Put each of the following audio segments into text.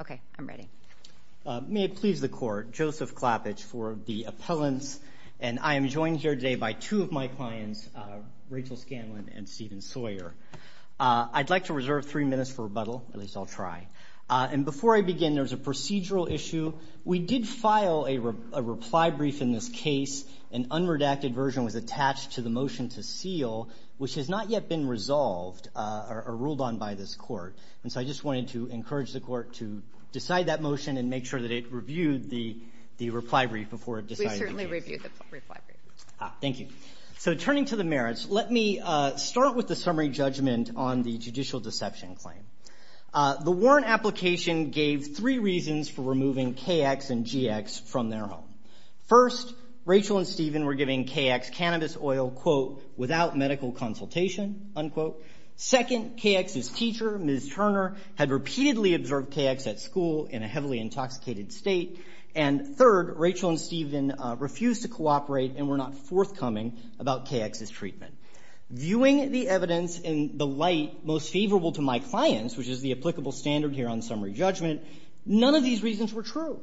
Okay, I'm ready. May it please the court, Joseph Klapich for the appellants, and I am joined here today by two of my clients, Rachel Scanlon and Stephen Sawyer. I'd like to reserve three minutes for rebuttal, at least I'll try. And before I begin, there's a procedural issue. We did file a reply brief in this case. An unredacted version was attached to the motion to seal, which has not yet been resolved or ruled on by this court. And so I just wanted to encourage the court to decide that motion and make sure that it reviewed the reply brief before deciding the case. We certainly reviewed the reply brief. Thank you. So turning to the merits, let me start with the summary judgment on the judicial deception claim. The warrant application gave three reasons for removing KX and GX from their home. First, Rachel and Stephen were giving KX cannabis oil, quote, without medical consultation, unquote. Second, KX's teacher, Ms. Turner, had repeatedly observed KX at school in a heavily intoxicated state. And third, Rachel and Stephen refused to cooperate and were not forthcoming about KX's treatment. Viewing the evidence in the light most favorable to my clients, which is the applicable standard here on summary judgment, none of these reasons were true.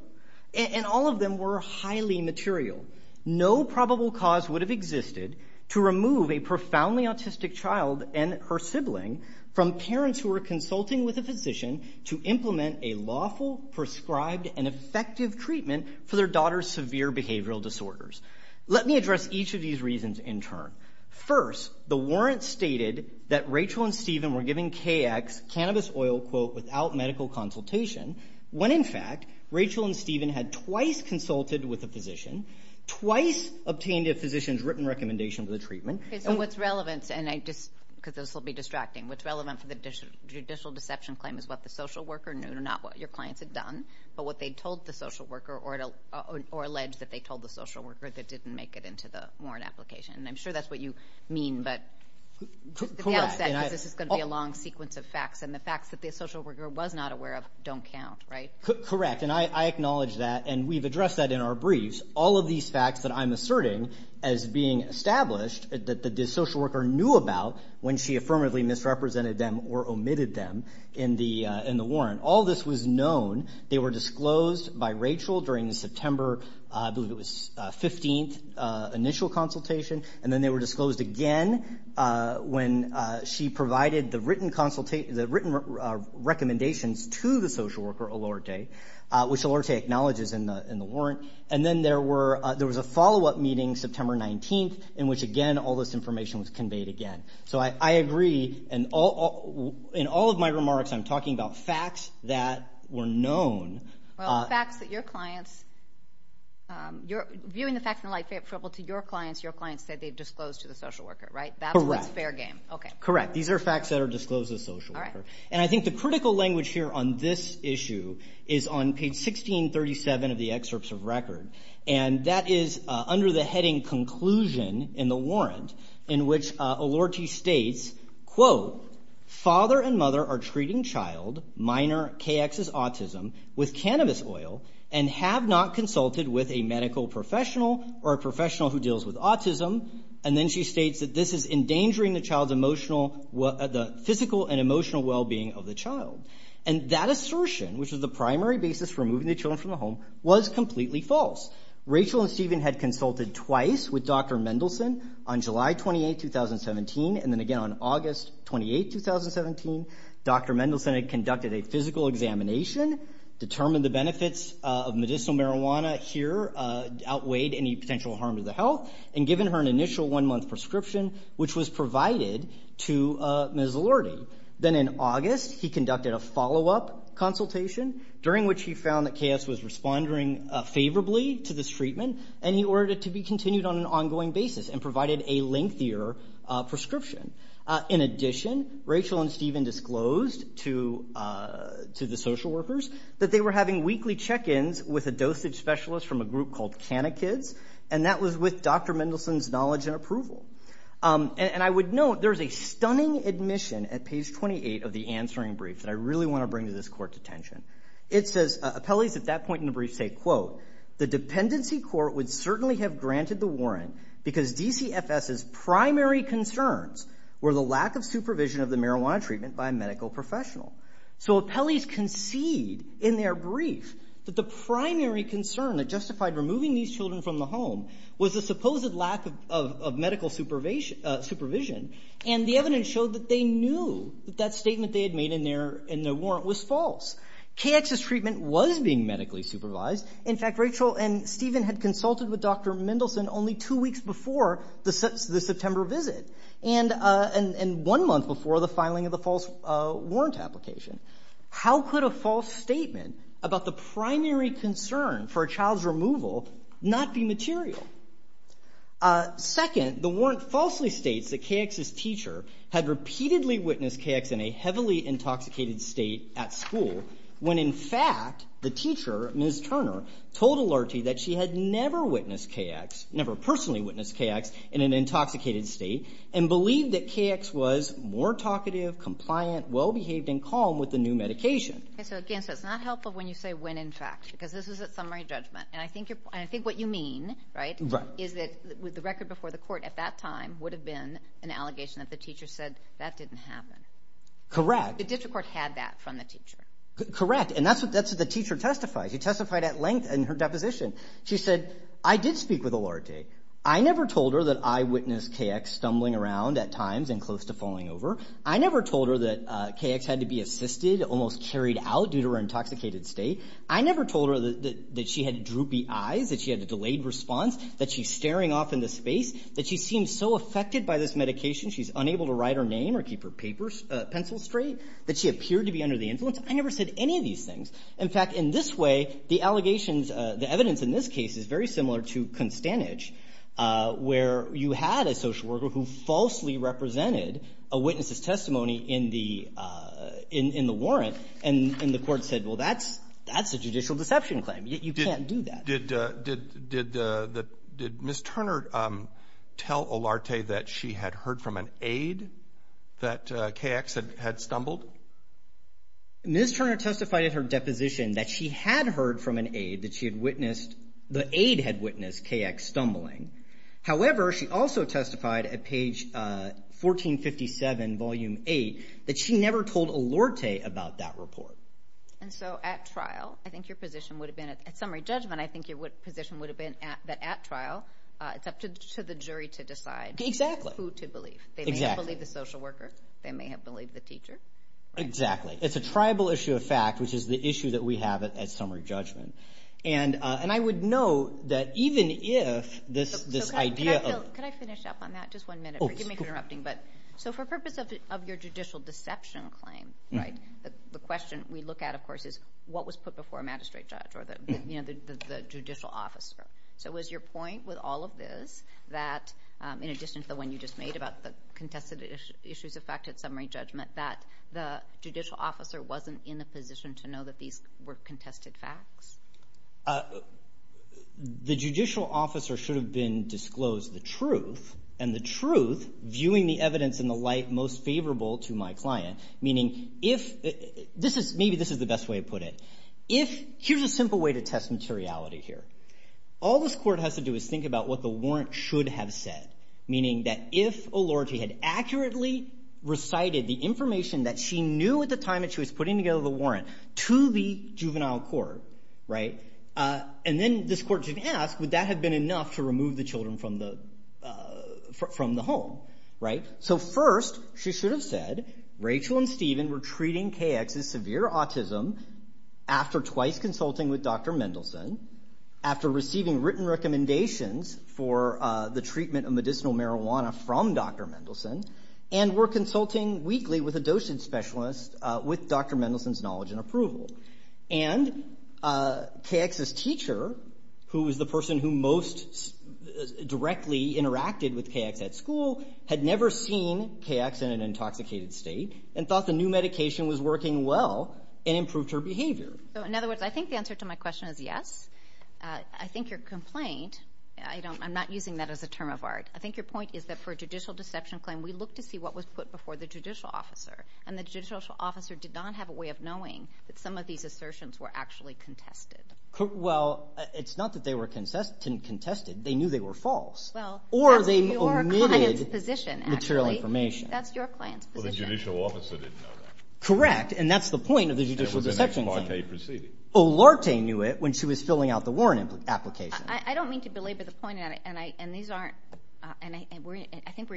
And all of them were highly material. No probable cause would have existed to remove a profoundly autistic child and her sibling from parents who were consulting with a physician to implement a lawful, prescribed, and effective treatment for their daughter's severe behavioral disorders. Let me address each of these reasons in turn. First, the warrant stated that Rachel and Stephen were giving KX cannabis oil, quote, without medical consultation, when in fact Rachel and Stephen had twice consulted with a physician, twice obtained a physician's written recommendation for the treatment. Okay, so what's relevant, and I just, because this will be distracting, what's relevant for the judicial deception claim is what the social worker knew, not what your clients had done, but what they told the social worker or alleged that they told the social worker that didn't make it into the warrant application. And I'm sure that's what you mean, but the outset is this is going to be a long sequence of facts, and the facts that the social worker was not aware of don't count, right? Correct, and I acknowledge that, and we've addressed that in our briefs. All of these facts that I'm asserting as being established that the social worker knew about when she affirmatively misrepresented them or omitted them in the warrant, all this was known. They were disclosed by Rachel during the September, I believe it was, 15th initial consultation, and then they were disclosed again when she provided the written recommendations to the social worker, Elorte, which Elorte acknowledges in the warrant. And then there was a follow-up meeting September 19th in which, again, all this information was conveyed again. So I agree, and in all of my remarks I'm talking about facts that were known. Well, facts that your clients – viewing the facts in the light favorable to your clients, your clients said they disclosed to the social worker, right? Correct. That's fair game. Okay. Correct. These are facts that are disclosed to the social worker. All right. And I think the critical language here on this issue is on page 1637 of the excerpts of record, and that is under the heading conclusion in the warrant in which Elorte states, quote, father and mother are treating child, minor, KX as autism, with cannabis oil and have not consulted with a medical professional or a professional who deals with autism. And then she states that this is endangering the child's emotional – the physical and emotional well-being of the child. And that assertion, which is the primary basis for removing the children from the home, was completely false. Rachel and Stephen had consulted twice with Dr. Mendelsohn on July 28th, 2017, and then again on August 28th, 2017, Dr. Mendelsohn had conducted a physical examination, determined the benefits of medicinal marijuana here outweighed any potential harm to the health, and given her an initial one-month prescription, which was provided to Ms. Elorte. Then in August, he conducted a follow-up consultation, during which he found that KX was responding favorably to this treatment, and he ordered it to be continued on an ongoing basis and provided a lengthier prescription. In addition, Rachel and Stephen disclosed to the social workers that they were having weekly check-ins with a dosage specialist from a group called Canna Kids, and that was with Dr. Mendelsohn's knowledge and approval. And I would note there's a stunning admission at page 28 of the answering brief that I really want to bring to this Court's attention. It says, appellees at that point in the brief say, quote, the dependency court would certainly have granted the warrant because DCFS's primary concerns were the lack of supervision of the marijuana treatment by a medical professional. So appellees concede in their brief that the primary concern that justified removing these children from the home was the supposed lack of medical supervision, and the evidence showed that they knew that that statement they had made in their warrant was false. KX's treatment was being medically supervised. In fact, Rachel and Stephen had consulted with Dr. Mendelsohn only two weeks before the September visit and one month before the filing of the false warrant application. How could a false statement about the primary concern for a child's removal not be material? Second, the warrant falsely states that KX's teacher had repeatedly witnessed KX in a heavily intoxicated state at school when, in fact, the teacher, Ms. Turner, told Alerti that she had never witnessed KX, never personally witnessed KX in an intoxicated state, and believed that KX was more talkative, compliant, well-behaved, and calm with the new medication. So again, it's not helpful when you say when, in fact, because this is a summary judgment, and I think what you mean, right, is that the record before the court at that time would have been an allegation that the teacher said that didn't happen. Correct. The district court had that from the teacher. Correct, and that's what the teacher testified. She testified at length in her deposition. She said, I did speak with Alerti. I never told her that I witnessed KX stumbling around at times and close to falling over. I never told her that KX had to be assisted, almost carried out due to her intoxicated state. I never told her that she had droopy eyes, that she had a delayed response, that she's staring off into space, that she seems so affected by this medication she's unable to write her name or keep her pencil straight, that she appeared to be under the influence. I never said any of these things. In fact, in this way, the allegations, the evidence in this case is very similar to Constandage, where you had a social worker who falsely represented a witness's testimony in the warrant, and the court said, well, that's a judicial deception claim. You can't do that. Did Ms. Turner tell Alerti that she had heard from an aide that KX had stumbled? Ms. Turner testified at her deposition that she had heard from an aide that she had witnessed, the aide had witnessed KX stumbling. However, she also testified at page 1457, volume 8, that she never told Alerti about that report. And so at trial, I think your position would have been, at summary judgment, I think your position would have been that at trial, it's up to the jury to decide who to believe. Exactly. They may have believed the social worker. They may have believed the teacher. Exactly. It's a tribal issue of fact, which is the issue that we have at summary judgment. And I would note that even if this idea of – Can I finish up on that? Just one minute. Forgive me for interrupting. So for purpose of your judicial deception claim, the question we look at, of course, is what was put before a magistrate judge or the judicial officer. So was your point with all of this that, in addition to the one you just made about the contested issues of fact at summary judgment, that the judicial officer wasn't in the position to know that these were contested facts? The judicial officer should have been disclosed the truth, and the truth viewing the evidence in the light most favorable to my client, meaning if – maybe this is the best way to put it. If – here's a simple way to test materiality here. All this court has to do is think about what the warrant should have said, meaning that if Olorte had accurately recited the information that she knew at the time that she was putting together the warrant to the juvenile court, and then this court should have asked, would that have been enough to remove the children from the home? So first, she should have said, Rachel and Stephen were treating KX's severe autism after twice consulting with Dr. Mendelsohn, after receiving written recommendations for the treatment of medicinal marijuana from Dr. Mendelsohn, and were consulting weekly with a dosage specialist with Dr. Mendelsohn's knowledge and approval. And KX's teacher, who was the person who most directly interacted with KX at school, had never seen KX in an intoxicated state and thought the new medication was working well and improved her behavior. So in other words, I think the answer to my question is yes. I think your complaint – I'm not using that as a term of art. I think your point is that for a judicial deception claim, we looked to see what was put before the judicial officer, and the judicial officer did not have a way of knowing that some of these assertions were actually contested. Well, it's not that they were contested. They knew they were false. Well, that's your client's position, actually. Or they omitted material information. That's your client's position. Well, the judicial officer didn't know that. Correct, and that's the point of the judicial deception claim. It was an ex parte proceeding. Olarte knew it when she was filling out the warrant application. I don't mean to belabor the point, and I think we're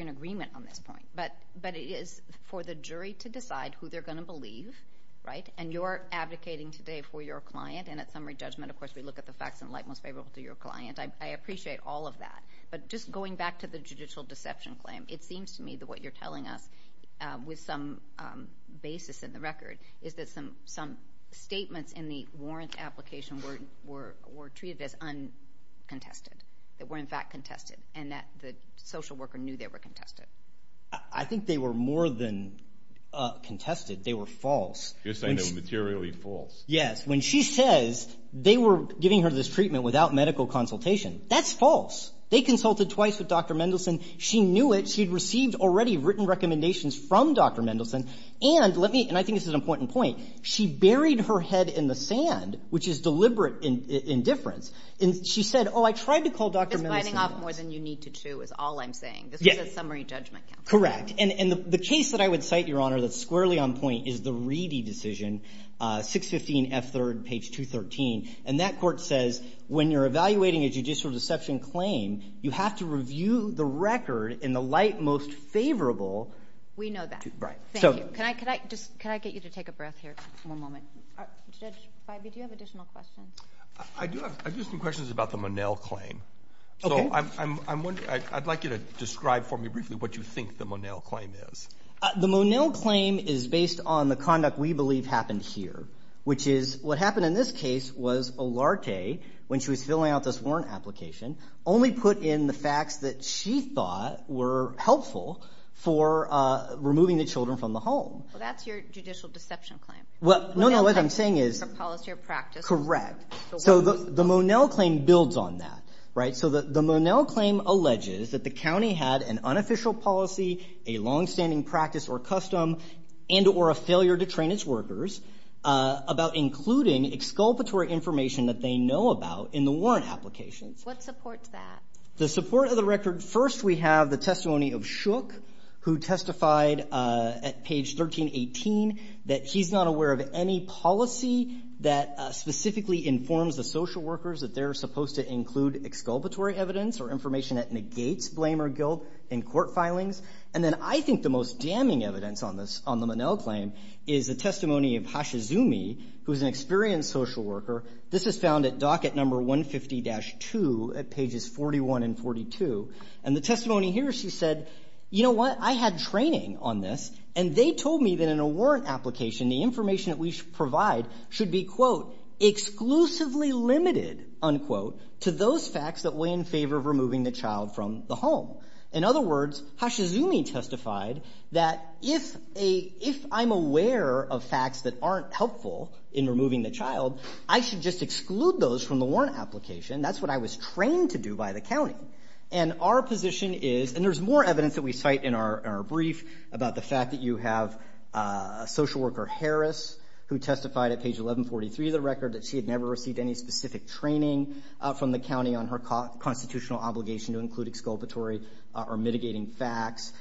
in agreement on this point. But it is for the jury to decide who they're going to believe, right? And you're advocating today for your client, and at summary judgment, of course, we look at the facts in light most favorable to your client. I appreciate all of that. But just going back to the judicial deception claim, it seems to me that what you're telling us with some basis in the record is that some statements in the warrant application were treated as uncontested, that were in fact contested, and that the social worker knew they were contested. I think they were more than contested. They were false. You're saying they were materially false. Yes. When she says they were giving her this treatment without medical consultation, that's false. They consulted twice with Dr. Mendelson. She knew it. She had received already written recommendations from Dr. Mendelson. And let me, and I think this is an important point, she buried her head in the sand, which is deliberate indifference. And she said, Oh, I tried to call Dr. Mendelson. This biting off more than you need to chew is all I'm saying. This was a summary judgment count. Correct. And the case that I would cite, Your Honor, that's squarely on point, is the Reedy decision, 615F3rd, page 213. And that court says when you're evaluating a judicial deception claim, you have to review the record in the light most favorable. We know that. Right. Thank you. Can I get you to take a breath here for one moment? Judge Feibe, do you have additional questions? I do have some questions about the Monell claim. Okay. I'd like you to describe for me briefly what you think the Monell claim is. The Monell claim is based on the conduct we believe happened here, which is what happened in this case was Olarte, when she was filling out this warrant application, only put in the facts that she thought were helpful for removing the children from the home. Well, that's your judicial deception claim. Well, no, no, what I'm saying is. Correct. So the Monell claim builds on that. Right? So the Monell claim alleges that the county had an unofficial policy, a longstanding practice or custom, and or a failure to train its workers about including exculpatory information that they know about in the warrant applications. What supports that? The support of the record. First, we have the testimony of Shook, who testified at page 1318, that he's not aware of any policy that specifically informs the social workers that they're supposed to include exculpatory evidence or information that negates blame or guilt in court filings. And then I think the most damning evidence on this, on the Monell claim, is the testimony of Hashizumi, who's an experienced social worker. This is found at docket number 150-2 at pages 41 and 42. And the testimony here, she said, you know what, I had training on this, and they told me that in a warrant application, the information that we should provide should be, quote, exclusively limited, unquote, to those facts that weigh in favor of removing the child from the home. In other words, Hashizumi testified that if I'm aware of facts that aren't helpful in removing the child, I should just exclude those from the warrant application. That's what I was trained to do by the county. And our position is, and there's more evidence that we cite in our brief about the fact that you have a social worker, Harris, who testified at page 1143 of the record that she had never received any specific training from the county on her constitutional obligation to include exculpatory or mitigating facts.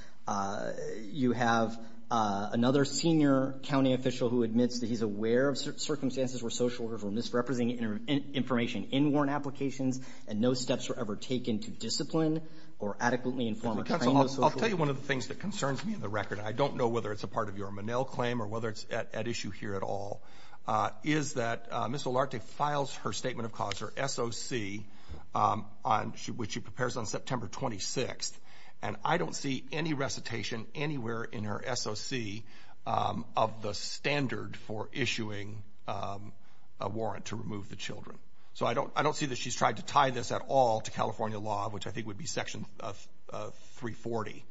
You have another senior county official who admits that he's aware of circumstances where social workers were misrepresenting information in warrant applications and no steps were ever taken to discipline or adequately inform or train those social workers. I'll tell you one of the things that concerns me in the record, and I don't know whether it's a part of your Monell claim or whether it's at issue here at all, is that Ms. Olarte files her Statement of Cause, her SOC, which she prepares on September 26th, and I don't see any recitation anywhere in her SOC of the standard for issuing a warrant to remove the children. So I don't see that she's tried to tie this at all to California law, which I think would be Section 340.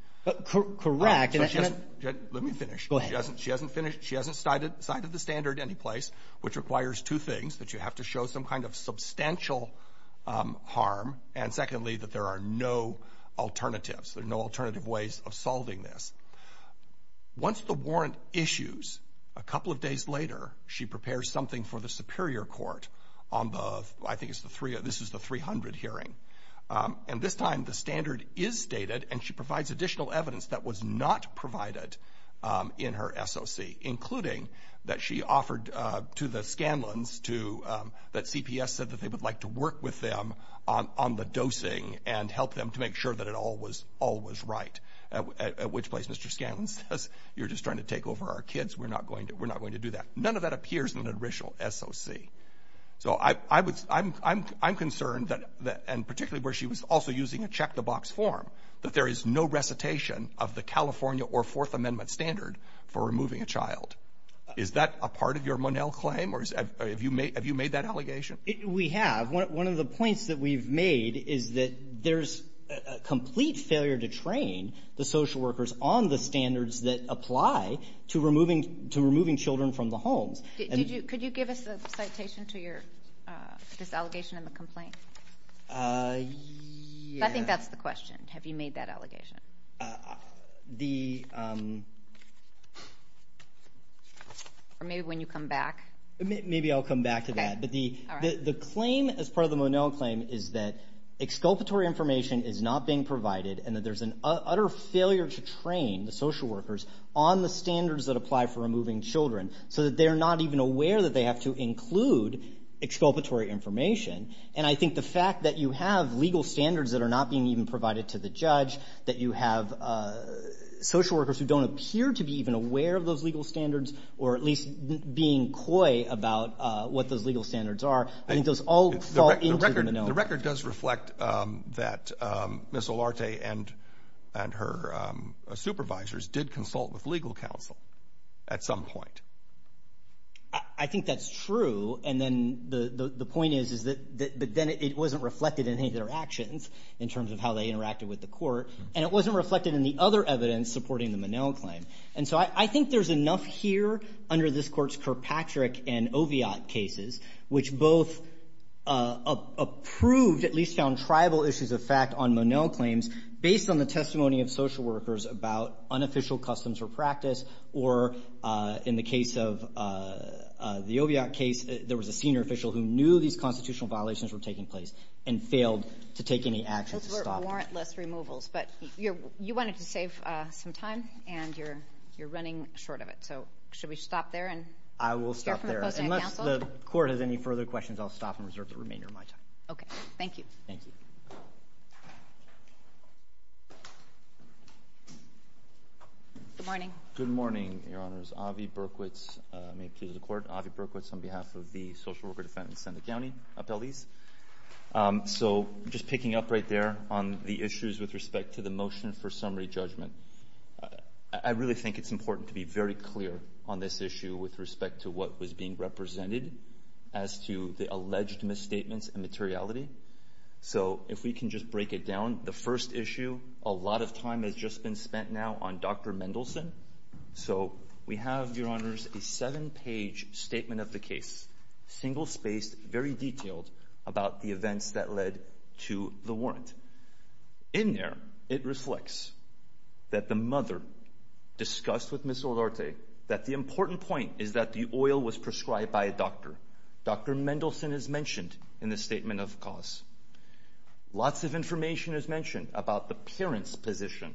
Correct. Let me finish. Go ahead. She hasn't cited the standard anyplace, which requires two things, that you have to show some kind of substantial harm, and secondly, that there are no alternatives. There are no alternative ways of solving this. Once the warrant issues, a couple of days later, she prepares something for the superior court on the, I think this is the 300 hearing. And this time the standard is stated, and she provides additional evidence that was not provided in her SOC, including that she offered to the Scanlans that CPS said that they would like to work with them on the dosing and help them to make sure that it all was right, at which place Mr. Scanlans says, you're just trying to take over our kids, we're not going to do that. None of that appears in the original SOC. So I'm concerned, and particularly where she was also using a check-the-box form, that there is no recitation of the California or Fourth Amendment standard for removing a child. Is that a part of your Monell claim, or have you made that allegation? We have. One of the points that we've made is that there's a complete failure to train the social workers on the standards that apply to removing children from the homes. Could you give us a citation to this allegation and the complaint? I think that's the question. Have you made that allegation? Or maybe when you come back? Maybe I'll come back to that. But the claim as part of the Monell claim is that exculpatory information is not being provided and that there's an utter failure to train the social workers on the standards that apply for removing children so that they're not even aware that they have to include exculpatory information. And I think the fact that you have legal standards that are not being even provided to the judge, that you have social workers who don't appear to be even aware of those legal standards or at least being coy about what those legal standards are, I think those all fall into the Monell claim. The record does reflect that Ms. Olarte and her supervisors did consult with legal counsel at some point. I think that's true, and then the point is that then it wasn't reflected in any of their actions in terms of how they interacted with the court, and it wasn't reflected in the other evidence supporting the Monell claim. And so I think there's enough here under this Court's Kirkpatrick and Oviatt cases which both approved, at least found tribal issues of fact on Monell claims based on the testimony of social workers about unofficial customs or practice or in the case of the Oviatt case, there was a senior official who knew these constitutional violations were taking place But you wanted to save some time, and you're running short of it, so should we stop there? I will stop there. Unless the Court has any further questions, I'll stop and reserve the remainder of my time. Okay, thank you. Thank you. Good morning. Good morning, Your Honors. Ovi Berkowitz, may it please the Court. Ovi Berkowitz on behalf of the Social Worker Defendant Senate County Appellees. So just picking up right there on the issues with respect to the motion for summary judgment. I really think it's important to be very clear on this issue with respect to what was being represented as to the alleged misstatements and materiality. So if we can just break it down. The first issue, a lot of time has just been spent now on Dr. Mendelson. So we have, Your Honors, a seven-page statement of the case, single-spaced, very detailed, about the events that led to the warrant. In there, it reflects that the mother discussed with Ms. Olarte that the important point is that the oil was prescribed by a doctor. Dr. Mendelson is mentioned in the statement of cause. Lots of information is mentioned about the parent's position.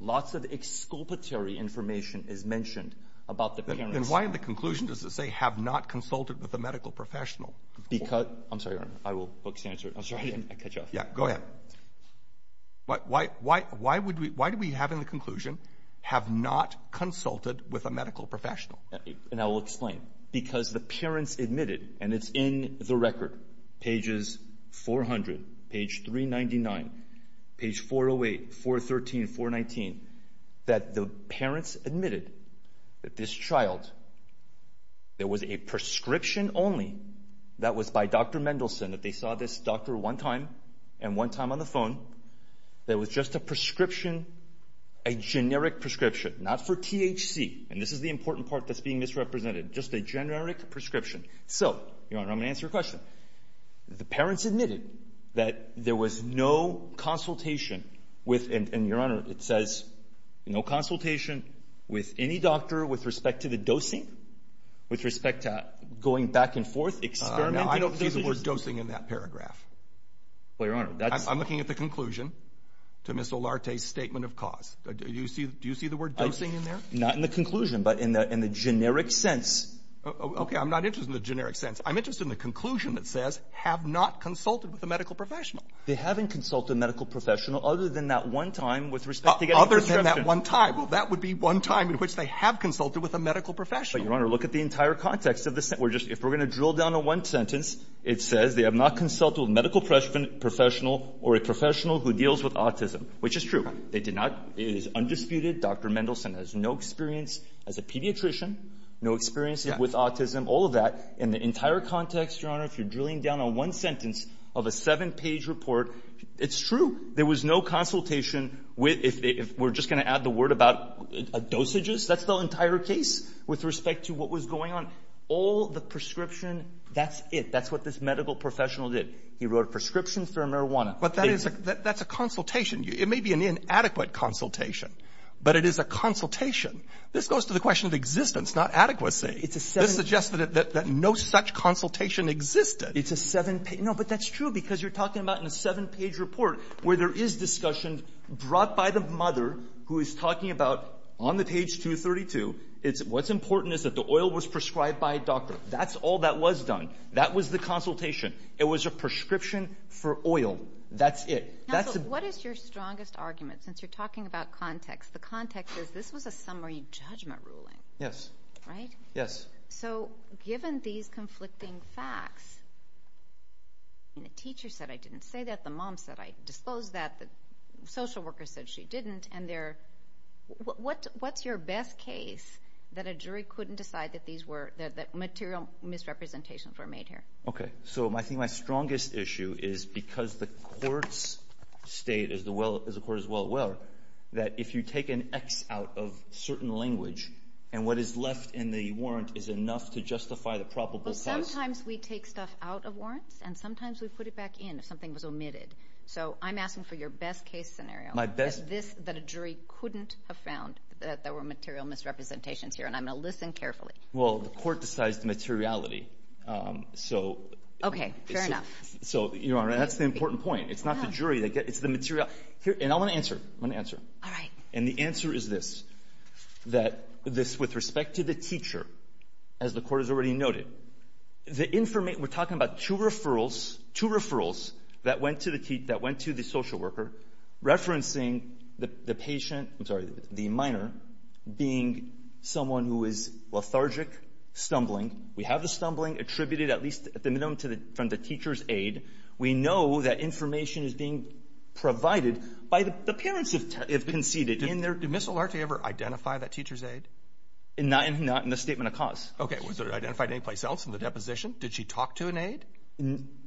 Lots of exculpatory information is mentioned about the parent's position. Then why in the conclusion does it say, have not consulted with a medical professional? Because, I'm sorry, Your Honor, I will focus the answer. I'm sorry, I cut you off. Yeah, go ahead. Why do we have in the conclusion, have not consulted with a medical professional? And I will explain. Because the parents admitted, and it's in the record, pages 400, page 399, page 408, 413, 419, that the parents admitted that this child, there was a prescription only that was by Dr. Mendelson, that they saw this doctor one time and one time on the phone, that was just a prescription, a generic prescription, not for THC. And this is the important part that's being misrepresented, just a generic prescription. So, Your Honor, I'm going to answer your question. The parents admitted that there was no consultation with, and, Your Honor, it says no consultation with any doctor with respect to the dosing, with respect to going back and forth, experimenting. There's a word dosing in that paragraph. I'm looking at the conclusion to Ms. Olarte's statement of cause. Do you see the word dosing in there? Not in the conclusion, but in the generic sense. Okay, I'm not interested in the generic sense. I'm interested in the conclusion that says, have not consulted with a medical professional. They haven't consulted a medical professional other than that one time with respect to getting a prescription. Other than that one time. Well, that would be one time in which they have consulted with a medical professional. But, Your Honor, look at the entire context of this. If we're going to drill down to one sentence, it says they have not consulted with a medical professional or a professional who deals with autism, which is true. They did not. It is undisputed. Dr. Mendelson has no experience as a pediatrician, no experience with autism, all of that. In the entire context, Your Honor, if you're drilling down on one sentence of a seven-page report, it's true. There was no consultation with the — if we're just going to add the word about dosages, that's the entire case with respect to what was going on. All the prescription, that's it. That's what this medical professional did. He wrote a prescription for marijuana. But that is a — that's a consultation. It may be an inadequate consultation, but it is a consultation. It's a seven-page report. You're suggesting that no such consultation existed. It's a seven-page — no, but that's true because you're talking about in a seven-page report where there is discussion brought by the mother who is talking about, on the page 232, it's — what's important is that the oil was prescribed by a doctor. That's all that was done. That was the consultation. It was a prescription for oil. That's it. That's — Counsel, what is your strongest argument, since you're talking about context? The context is this was a summary judgment ruling. Yes. Right? Yes. So given these conflicting facts, the teacher said I didn't say that. The mom said I disclosed that. The social worker said she didn't. And they're — what's your best case that a jury couldn't decide that these were — that material misrepresentations were made here? Okay. So I think my strongest issue is because the courts state, as the courts well aware, that if you take an X out of certain language, and what is left in the warrant is enough to justify the probable cause — Well, sometimes we take stuff out of warrants, and sometimes we put it back in if something was omitted. So I'm asking for your best case scenario. My best — That this — that a jury couldn't have found that there were material misrepresentations here. And I'm going to listen carefully. Well, the court decides the materiality. So — Okay. Fair enough. So, Your Honor, that's the important point. It's not the jury. It's the materiality. And I want to answer. I want to answer. All right. And the answer is this, that this — with respect to the teacher, as the court has already noted, the information — we're talking about two referrals — two referrals that went to the — that went to the social worker, referencing the patient — I'm sorry, the minor being someone who is lethargic, stumbling. We have the stumbling attributed at least at the minimum to the — from the teacher's aid. We know that information is being provided by the parents, if conceded. In their — did Ms. Olarte ever identify that teacher's aid? Not in the statement of cause. Okay. Was it identified anyplace else in the deposition? Did she talk to an aide?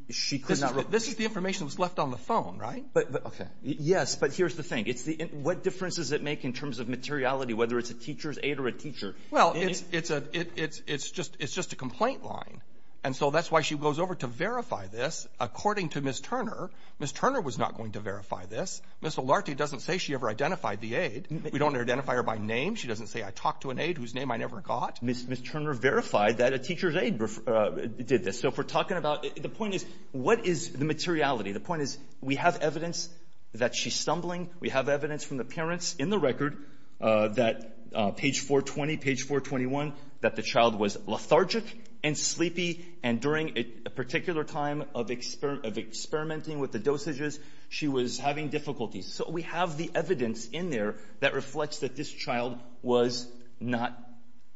She could not — This is the information that was left on the phone, right? But — okay. Yes, but here's the thing. It's the — what difference does it make in terms of materiality, whether it's a teacher's aide or a teacher? Well, it's a — it's just a complaint line. And so that's why she goes over to verify this, according to Ms. Turner. Ms. Turner was not going to verify this. Ms. Olarte doesn't say she ever identified the aide. We don't identify her by name. She doesn't say, I talked to an aide whose name I never got. Ms. Turner verified that a teacher's aide did this. So if we're talking about — the point is, what is the materiality? The point is, we have evidence that she's stumbling. We have evidence from the parents in the record that — page 420, page 421 — that the And during a particular time of experimenting with the dosages, she was having difficulties. So we have the evidence in there that reflects that this child was not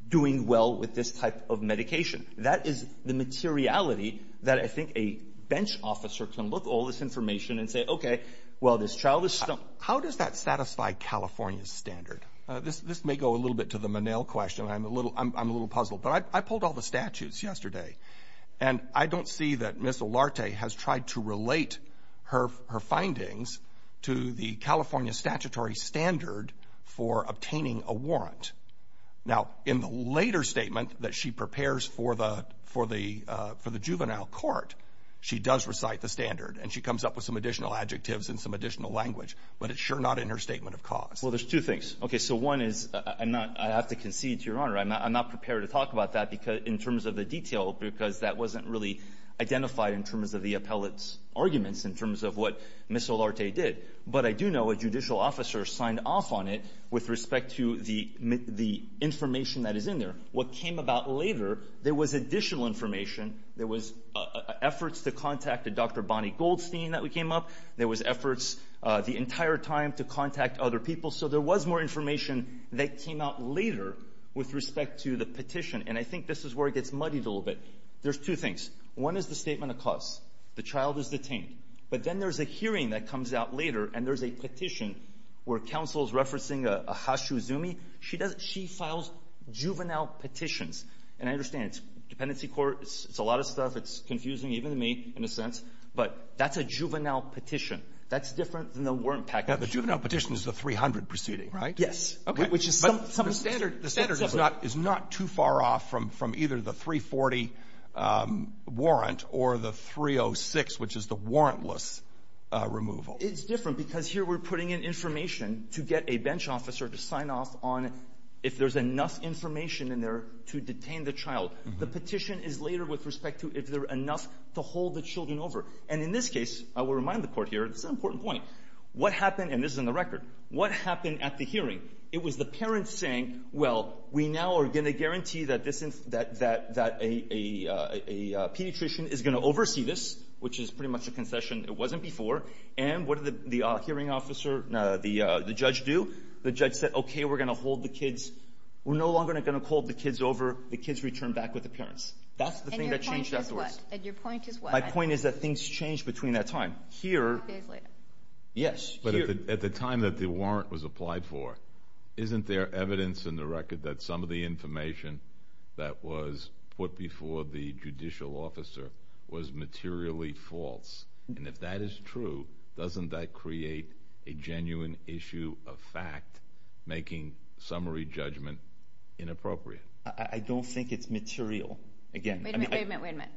doing well with this type of medication. That is the materiality that I think a bench officer can look at all this information and say, okay, well, this child is — How does that satisfy California's standard? This may go a little bit to the Menil question. I'm a little puzzled. But I pulled all the statutes yesterday, and I don't see that Ms. Olarte has tried to relate her findings to the California statutory standard for obtaining a warrant. Now, in the later statement that she prepares for the juvenile court, she does recite the standard, and she comes up with some additional adjectives and some additional language. But it's sure not in her statement of cause. Well, there's two things. Okay, so one is — I have to concede to Your Honor. I'm not prepared to talk about that in terms of the detail, because that wasn't really identified in terms of the appellate's arguments in terms of what Ms. Olarte did. But I do know a judicial officer signed off on it with respect to the information that is in there. What came about later, there was additional information. There was efforts to contact a Dr. Bonnie Goldstein that came up. There was efforts the entire time to contact other people. So there was more information that came out later with respect to the petition. And I think this is where it gets muddied a little bit. There's two things. One is the statement of cause. The child is detained. But then there's a hearing that comes out later, and there's a petition where counsel is referencing a Hashizumi. She does — she files juvenile petitions. And I understand it's dependency court. It's a lot of stuff. It's confusing, even to me, in a sense. But that's a juvenile petition. That's different than the warrant package. Yeah. The juvenile petition is the 300 proceeding, right? Yes. Okay. The standard is not too far off from either the 340 warrant or the 306, which is the warrantless removal. It's different because here we're putting in information to get a bench officer to sign off on if there's enough information in there to detain the child. The petition is later with respect to if there's enough to hold the children over. And in this case, I will remind the court here — this is an important point. What happened — and this is in the record — what happened at the hearing? It was the parents saying, well, we now are going to guarantee that a pediatrician is going to oversee this, which is pretty much a concession. It wasn't before. And what did the hearing officer — no, the judge do? The judge said, okay, we're going to hold the kids — we're no longer going to hold the kids over. The kids return back with the parents. That's the thing that changed afterwards. And your point is what? My point is that things changed between that time. Five days later. Yes. But at the time that the warrant was applied for, isn't there evidence in the record that some of the information that was put before the judicial officer was materially false? And if that is true, doesn't that create a genuine issue of fact, making summary judgment inappropriate? I don't think it's material. Wait a minute. Wait a minute. Wait a minute.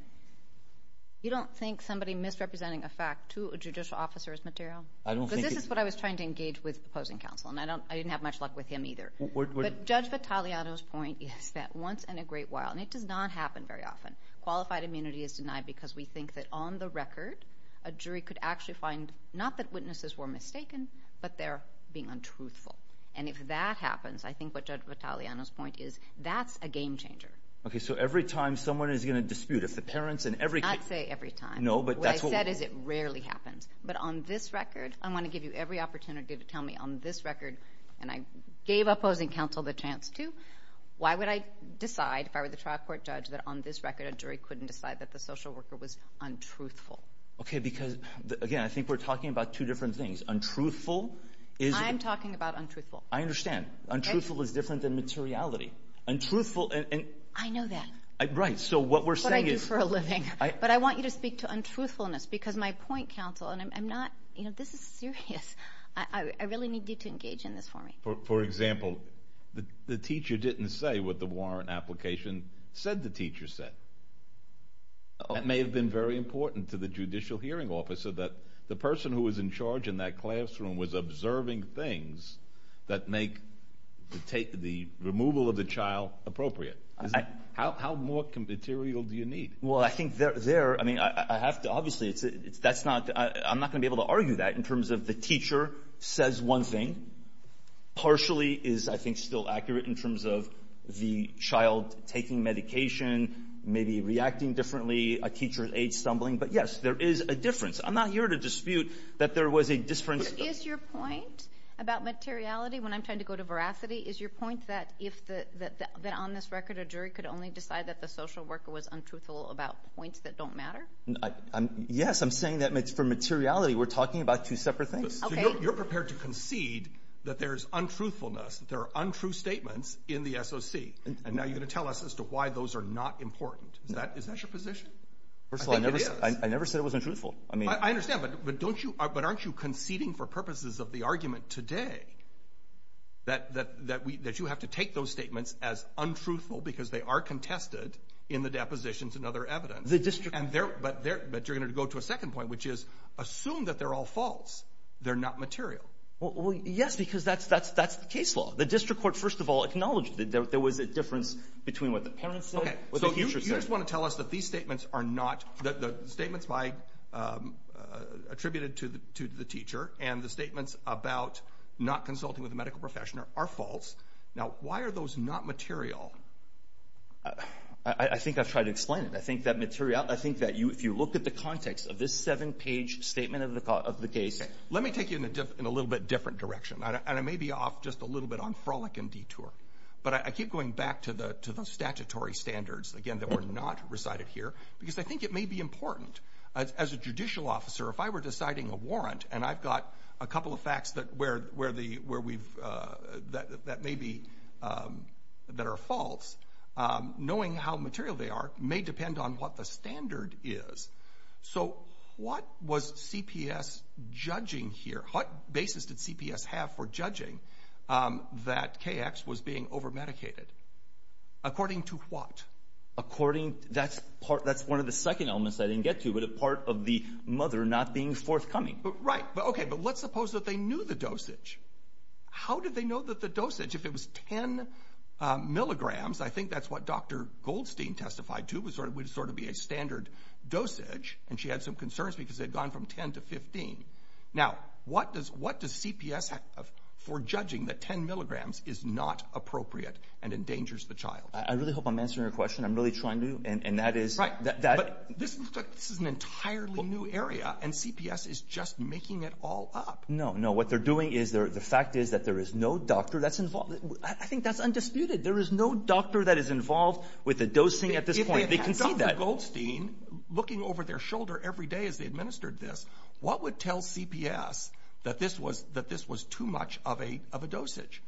I don't think it's material. Two judicial officers' material? Because this is what I was trying to engage with the opposing counsel, and I didn't have much luck with him either. But Judge Vitaleano's point is that once in a great while — and it does not happen very often — qualified immunity is denied because we think that on the record, a jury could actually find not that witnesses were mistaken, but they're being untruthful. And if that happens, I think what Judge Vitaleano's point is, that's a game changer. Okay. So every time someone is going to dispute, if the parents and every — Not say every time. No, but that's what — What I mean by that is it rarely happens. But on this record, I want to give you every opportunity to tell me on this record, and I gave opposing counsel the chance to, why would I decide, if I were the trial court judge, that on this record a jury couldn't decide that the social worker was untruthful? Okay. Because, again, I think we're talking about two different things. Untruthful is — I'm talking about untruthful. I understand. Okay. Untruthful is different than materiality. Untruthful — I know that. Right. So what we're saying is — What I do for a living. But I want you to speak to untruthfulness, because my point, counsel, and I'm not — you know, this is serious. I really need you to engage in this for me. For example, the teacher didn't say what the warrant application said the teacher said. It may have been very important to the judicial hearing officer that the person who was in charge in that classroom was observing things that make the removal of the child appropriate. How more material do you need? Well, I think there — I mean, I have to — obviously, that's not — I'm not going to be able to argue that in terms of the teacher says one thing. Partially is, I think, still accurate in terms of the child taking medication, maybe reacting differently, a teacher's age stumbling. But, yes, there is a difference. I'm not here to dispute that there was a difference — But is your point about materiality, when I'm trying to go to veracity, is your point that if — that on this record, a jury could only decide that the social worker was untruthful about points that don't matter? Yes, I'm saying that for materiality, we're talking about two separate things. Okay. So you're prepared to concede that there's untruthfulness, that there are untrue statements in the SOC, and now you're going to tell us as to why those are not important. Is that your position? I think it is. First of all, I never said it was untruthful. I mean — I understand, but don't you — but aren't you conceding for purposes of the argument today that you have to take those statements as untruthful because they are contested in the depositions and other evidence? The district court — But you're going to go to a second point, which is, assume that they're all false. They're not material. Well, yes, because that's the case law. The district court, first of all, acknowledged that there was a difference between what the parents said and what the teacher said. Okay. So you just want to tell us that these statements are not — the statements attributed to the teacher and the statements about not consulting with a medical professional are false. Now, why are those not material? I think I've tried to explain it. I think that material — I think that if you look at the context of this seven-page statement of the case — Okay. Let me take you in a little bit different direction, and I may be off just a little bit on frolic and detour. But I keep going back to the statutory standards, again, that were not recited here, because I think it may be important. As a judicial officer, if I were deciding a warrant, and I've got a couple of facts that may be — that are false, knowing how material they are may depend on what the standard is. So what was CPS judging here? What basis did CPS have for judging that KX was being overmedicated? According to what? According — that's part — that's one of the second elements I didn't get to, but a part of the mother not being forthcoming. Right. Okay. But let's suppose that they knew the dosage. How did they know that the dosage, if it was 10 milligrams — I think that's what Dr. Goldstein testified to, would sort of be a standard dosage, and she had some concerns because they had gone from 10 to 15. Now, what does CPS have for judging that 10 milligrams is not appropriate and endangers the child? I really hope I'm answering your question. I'm really trying to, and that is — Right. But this is an entirely new area, and CPS is just making it all up. No, no. What they're doing is — the fact is that there is no doctor that's involved — I think that's undisputed. There is no doctor that is involved with the dosing at this point. They concede that. If they had had Dr. Goldstein looking over their shoulder every day as they administered this, what would tell CPS that this was too much of a dosage?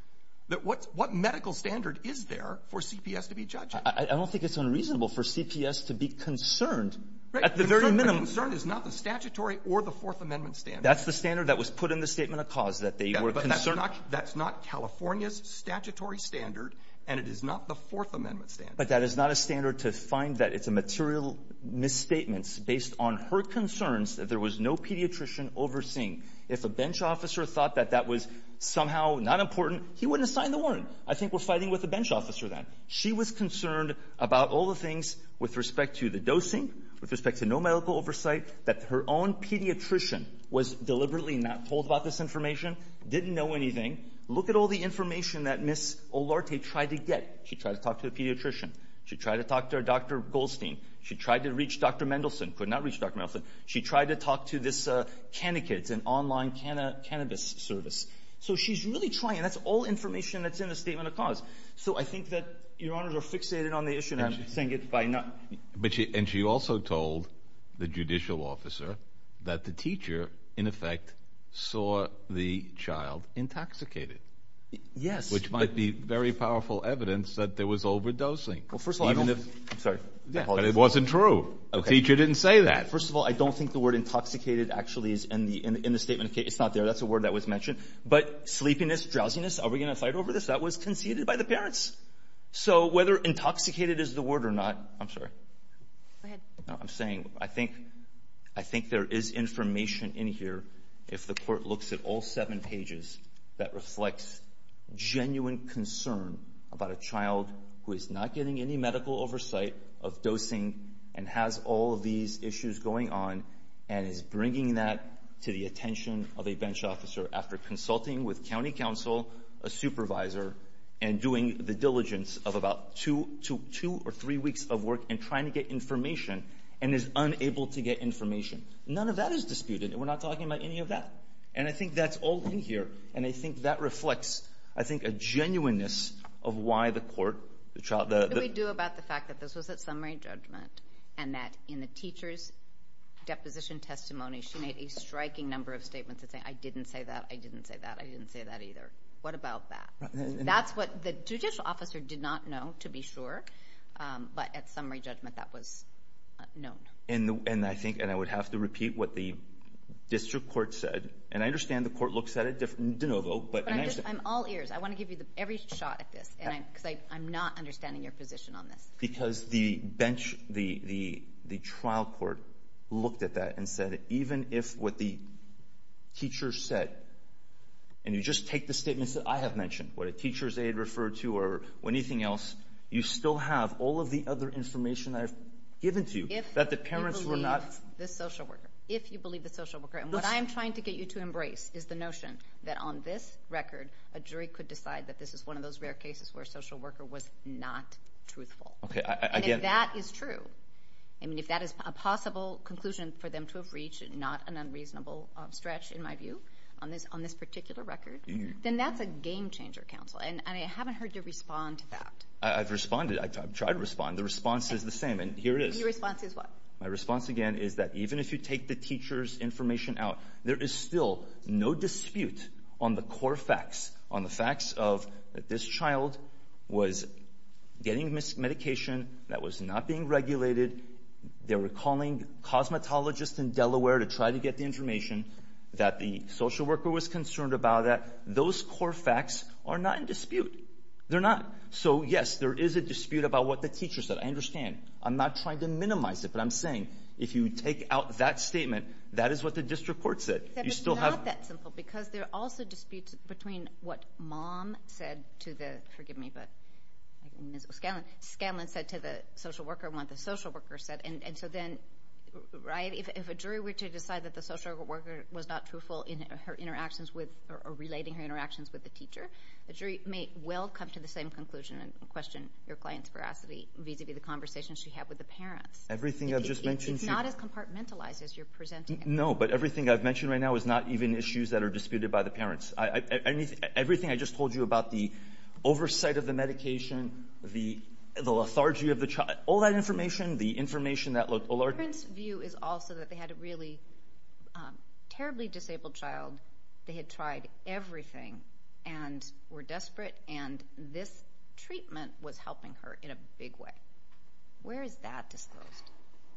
What medical standard is there for CPS to be judging? I don't think it's unreasonable for CPS to be concerned at the very minimum. Right. The concern is not the statutory or the Fourth Amendment standard. That's the standard that was put in the Statement of Cause, that they were concerned — Yeah, but that's not California's statutory standard, and it is not the Fourth Amendment standard. But that is not a standard to find that it's a material misstatement based on her concerns that there was no pediatrician overseeing. If a bench officer thought that that was somehow not important, he wouldn't have signed the warrant. I think we're fighting with a bench officer then. She was concerned about all the things with respect to the dosing, with respect to no medical oversight, that her own pediatrician was deliberately not told about this information, didn't know anything. Look at all the information that Ms. Olarte tried to get. She tried to talk to a pediatrician. She tried to talk to Dr. Goldstein. She tried to reach Dr. Mendelsohn. Could not reach Dr. Mendelsohn. She tried to talk to this — it's an online cannabis service. So she's really trying, and that's all information that's in the Statement of Cause. So I think that Your Honors are fixated on the issue, and I'm saying it by not — But she — and she also told the judicial officer that the teacher, in effect, saw the child intoxicated. Yes. Which might be very powerful evidence that there was overdosing. Well, first of all, I don't — Even if — I'm sorry. I apologize. But it wasn't true. Okay. The teacher didn't say that. First of all, I don't think the word intoxicated actually is in the Statement of Case. It's not there. That's a word that was mentioned. But sleepiness, drowsiness, are we going to fight over this? That was conceded by the parents. So whether intoxicated is the word or not — I'm sorry. Go ahead. No, I'm saying — I think there is information in here, if the Court looks at all seven pages, that reflects genuine concern about a child who is not getting any medical oversight of dosing and has all of these issues going on and is bringing that to the attention of a bench officer after consulting with county counsel, a supervisor, and doing the diligence of about two or three weeks of work and trying to get information and is unable to get information. None of that is disputed. We're not talking about any of that. And I think that's all in here. And I think that reflects, I think, a genuineness of why the Court — What do we do about the fact that this was at summary judgment and that in the teacher's deposition testimony, she made a striking number of statements that say, I didn't say that, I didn't say that, I didn't say that either. What about that? That's what the judicial officer did not know, to be sure. But at summary judgment, that was known. And I think — and I would have to repeat what the district court said. And I understand the Court looks at it de novo, but — I'm all ears. I want to give you every shot at this, because I'm not understanding your position on this. Because the trial court looked at that and said, even if what the teacher said, and you just take the statements that I have mentioned, what a teacher's aide referred to or anything else, you still have all of the other information that I've given to you that the parents were not — If you believe the social worker. If you believe the social worker. And what I'm trying to get you to embrace is the notion that on this record, a jury could decide that this is one of those rare cases where a social worker was not truthful. And if that is true, I mean, if that is a possible conclusion for them to have reached, not an unreasonable stretch in my view, on this particular record, then that's a game changer, counsel. And I haven't heard you respond to that. I've responded. I've tried to respond. The response is the same. And here it is. Your response is what? My response, again, is that even if you take the teacher's information out, there is still no dispute on the core facts, on the facts of that this child was getting medication that was not being regulated. They were calling cosmetologists in Delaware to try to get the information that the social worker was concerned about. Those core facts are not in dispute. They're not. So, yes, there is a dispute about what the teacher said. I understand. I'm not trying to minimize it, but I'm saying if you take out that statement, that is what the district court said. You still have— But it's not that simple because there are also disputes between what Mom said to the—forgive me, but—Scanlon said to the social worker what the social worker said. And so then, right, if a jury were to decide that the social worker was not truthful in her interactions with or relating her interactions with the teacher, the jury may well come to the same conclusion and question your client's veracity vis-a-vis the conversations she had with the parents. Everything I've just mentioned— It's not as compartmentalized as you're presenting it. No, but everything I've mentioned right now is not even issues that are disputed by the parents. Everything I just told you about the oversight of the medication, the lethargy of the child, all that information, the information that— The parent's view is also that they had a really terribly disabled child. They had tried everything and were desperate, and this treatment was helping her in a big way. Where is that disclosed?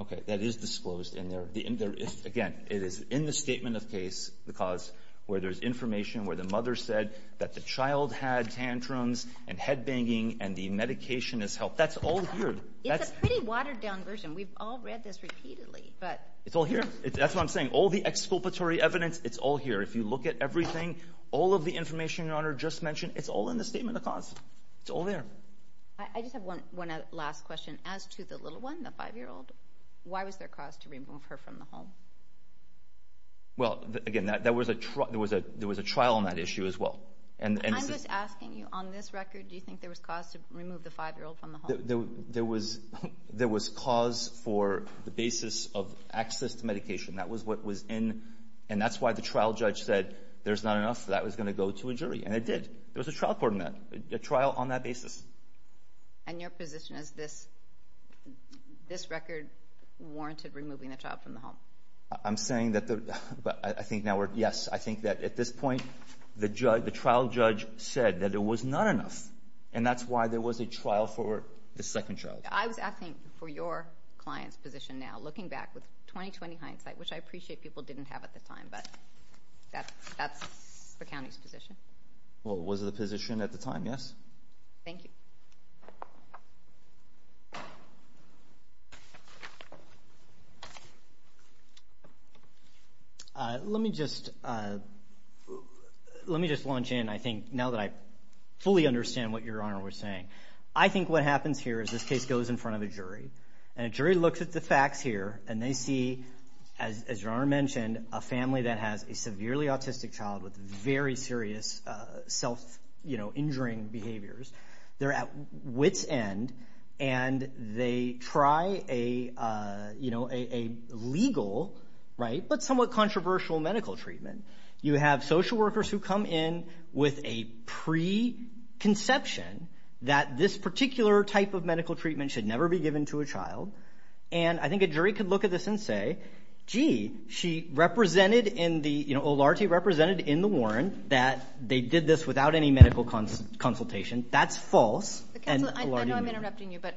Okay, that is disclosed in their—again, it is in the statement of case because where there's information where the mother said that the child had tantrums and headbanging and the medication has helped. That's all here. It's a pretty watered-down version. We've all read this repeatedly, but— It's all here. That's what I'm saying. All the exculpatory evidence, it's all here. If you look at everything, all of the information Your Honor just mentioned, it's all in the statement of cause. It's all there. I just have one last question. As to the little one, the five-year-old, why was there cause to remove her from the home? Well, again, there was a trial on that issue as well. I'm just asking you, on this record, do you think there was cause to remove the five-year-old from the home? There was cause for the basis of access to medication. That was what was in, and that's why the trial judge said there's not enough. That was going to go to a jury, and it did. There was a trial on that basis. And your position is this record warranted removing the child from the home? I'm saying that the—I think now we're—yes, I think that at this point, the trial judge said that there was not enough, and that's why there was a trial for the second child. I was asking for your client's position now, looking back with 20-20 hindsight, which I appreciate people didn't have at the time, but that's the county's position. Well, it was the position at the time, yes? Thank you. Let me just launch in, I think, now that I fully understand what Your Honor was saying. I think what happens here is this case goes in front of a jury, and a jury looks at the facts here, and they see, as Your Honor mentioned, a family that has a severely autistic child with very serious self-injuring behaviors. They're at wit's end, and they try a legal but somewhat controversial medical treatment. You have social workers who come in with a preconception that this particular type of medical treatment should never be given to a child, and I think a jury could look at this and say, gee, she represented in the—O'Larty represented in the warrant that they did this without any medical consultation. That's false, and O'Larty— Counsel, I know I'm interrupting you, but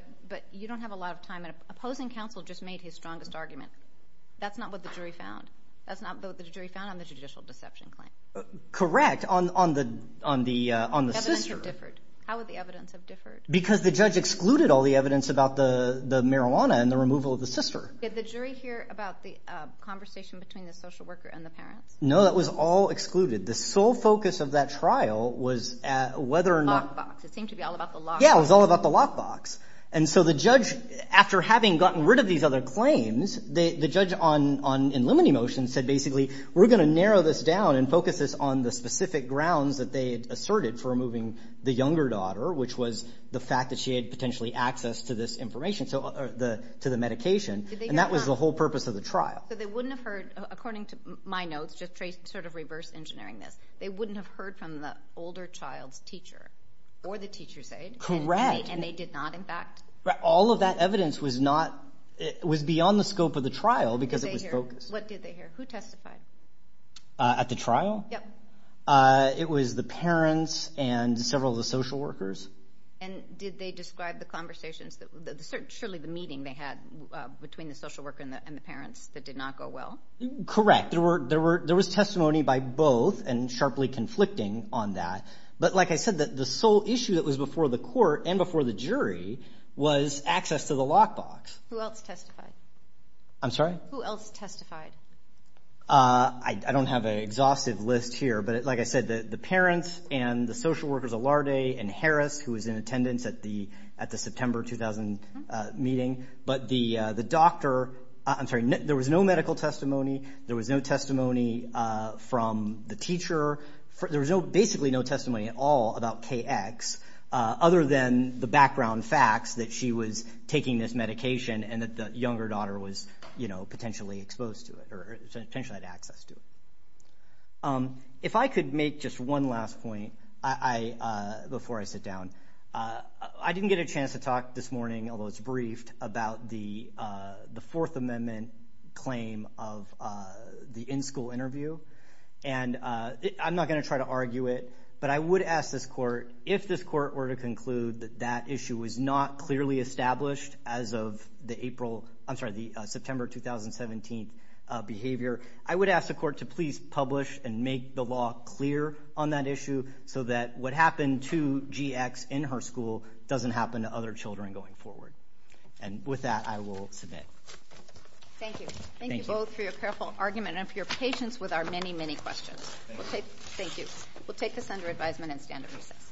you don't have a lot of time, and opposing counsel just made his strongest argument. That's not what the jury found. That's not what the jury found on the judicial deception claim. Correct. On the sister. How would the evidence have differed? Because the judge excluded all the evidence about the marijuana and the removal of the sister. Did the jury hear about the conversation between the social worker and the parents? No, that was all excluded. The sole focus of that trial was whether or not— Lockbox. It seemed to be all about the lockbox. Yeah, it was all about the lockbox. And so the judge, after having gotten rid of these other claims, the judge in limine motion said basically, we're going to narrow this down and focus this on the specific grounds that they had asserted for removing the younger daughter, which was the fact that she had potentially access to this information, to the medication, and that was the whole purpose of the trial. So they wouldn't have heard, according to my notes, just sort of reverse engineering this, they wouldn't have heard from the older child's teacher or the teacher's aide. Correct. And they did not, in fact. All of that evidence was beyond the scope of the trial because it was focused. What did they hear? Who testified? At the trial? Yep. It was the parents and several of the social workers. And did they describe the conversations, surely the meeting they had between the social worker and the parents that did not go well? Correct. There was testimony by both and sharply conflicting on that. But like I said, the sole issue that was before the court and before the jury was access to the lockbox. Who else testified? I'm sorry? Who else testified? I don't have an exhaustive list here, but like I said, the parents and the social workers, Allarde and Harris, who was in attendance at the September 2000 meeting. But the doctor, I'm sorry, there was no medical testimony. There was no testimony from the teacher. There was basically no testimony at all about KX other than the background facts that she was taking this medication and that the younger daughter was potentially exposed to it or potentially had access to it. If I could make just one last point before I sit down. I didn't get a chance to talk this morning, although it's briefed, about the Fourth Amendment claim of the in-school interview. And I'm not going to try to argue it. But I would ask this court, if this court were to conclude that that issue was not clearly established as of the April, I'm sorry, the September 2017 behavior. I would ask the court to please publish and make the law clear on that issue so that what happened to GX in her school doesn't happen to other children going forward. And with that, I will submit. Thank you. Thank you both for your careful argument and for your patience with our many, many questions. Thank you. We'll take this under advisement and stand at recess.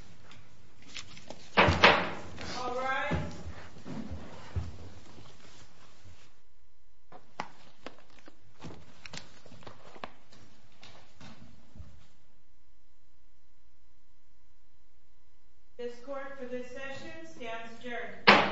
All rise. This court for this session stands adjourned.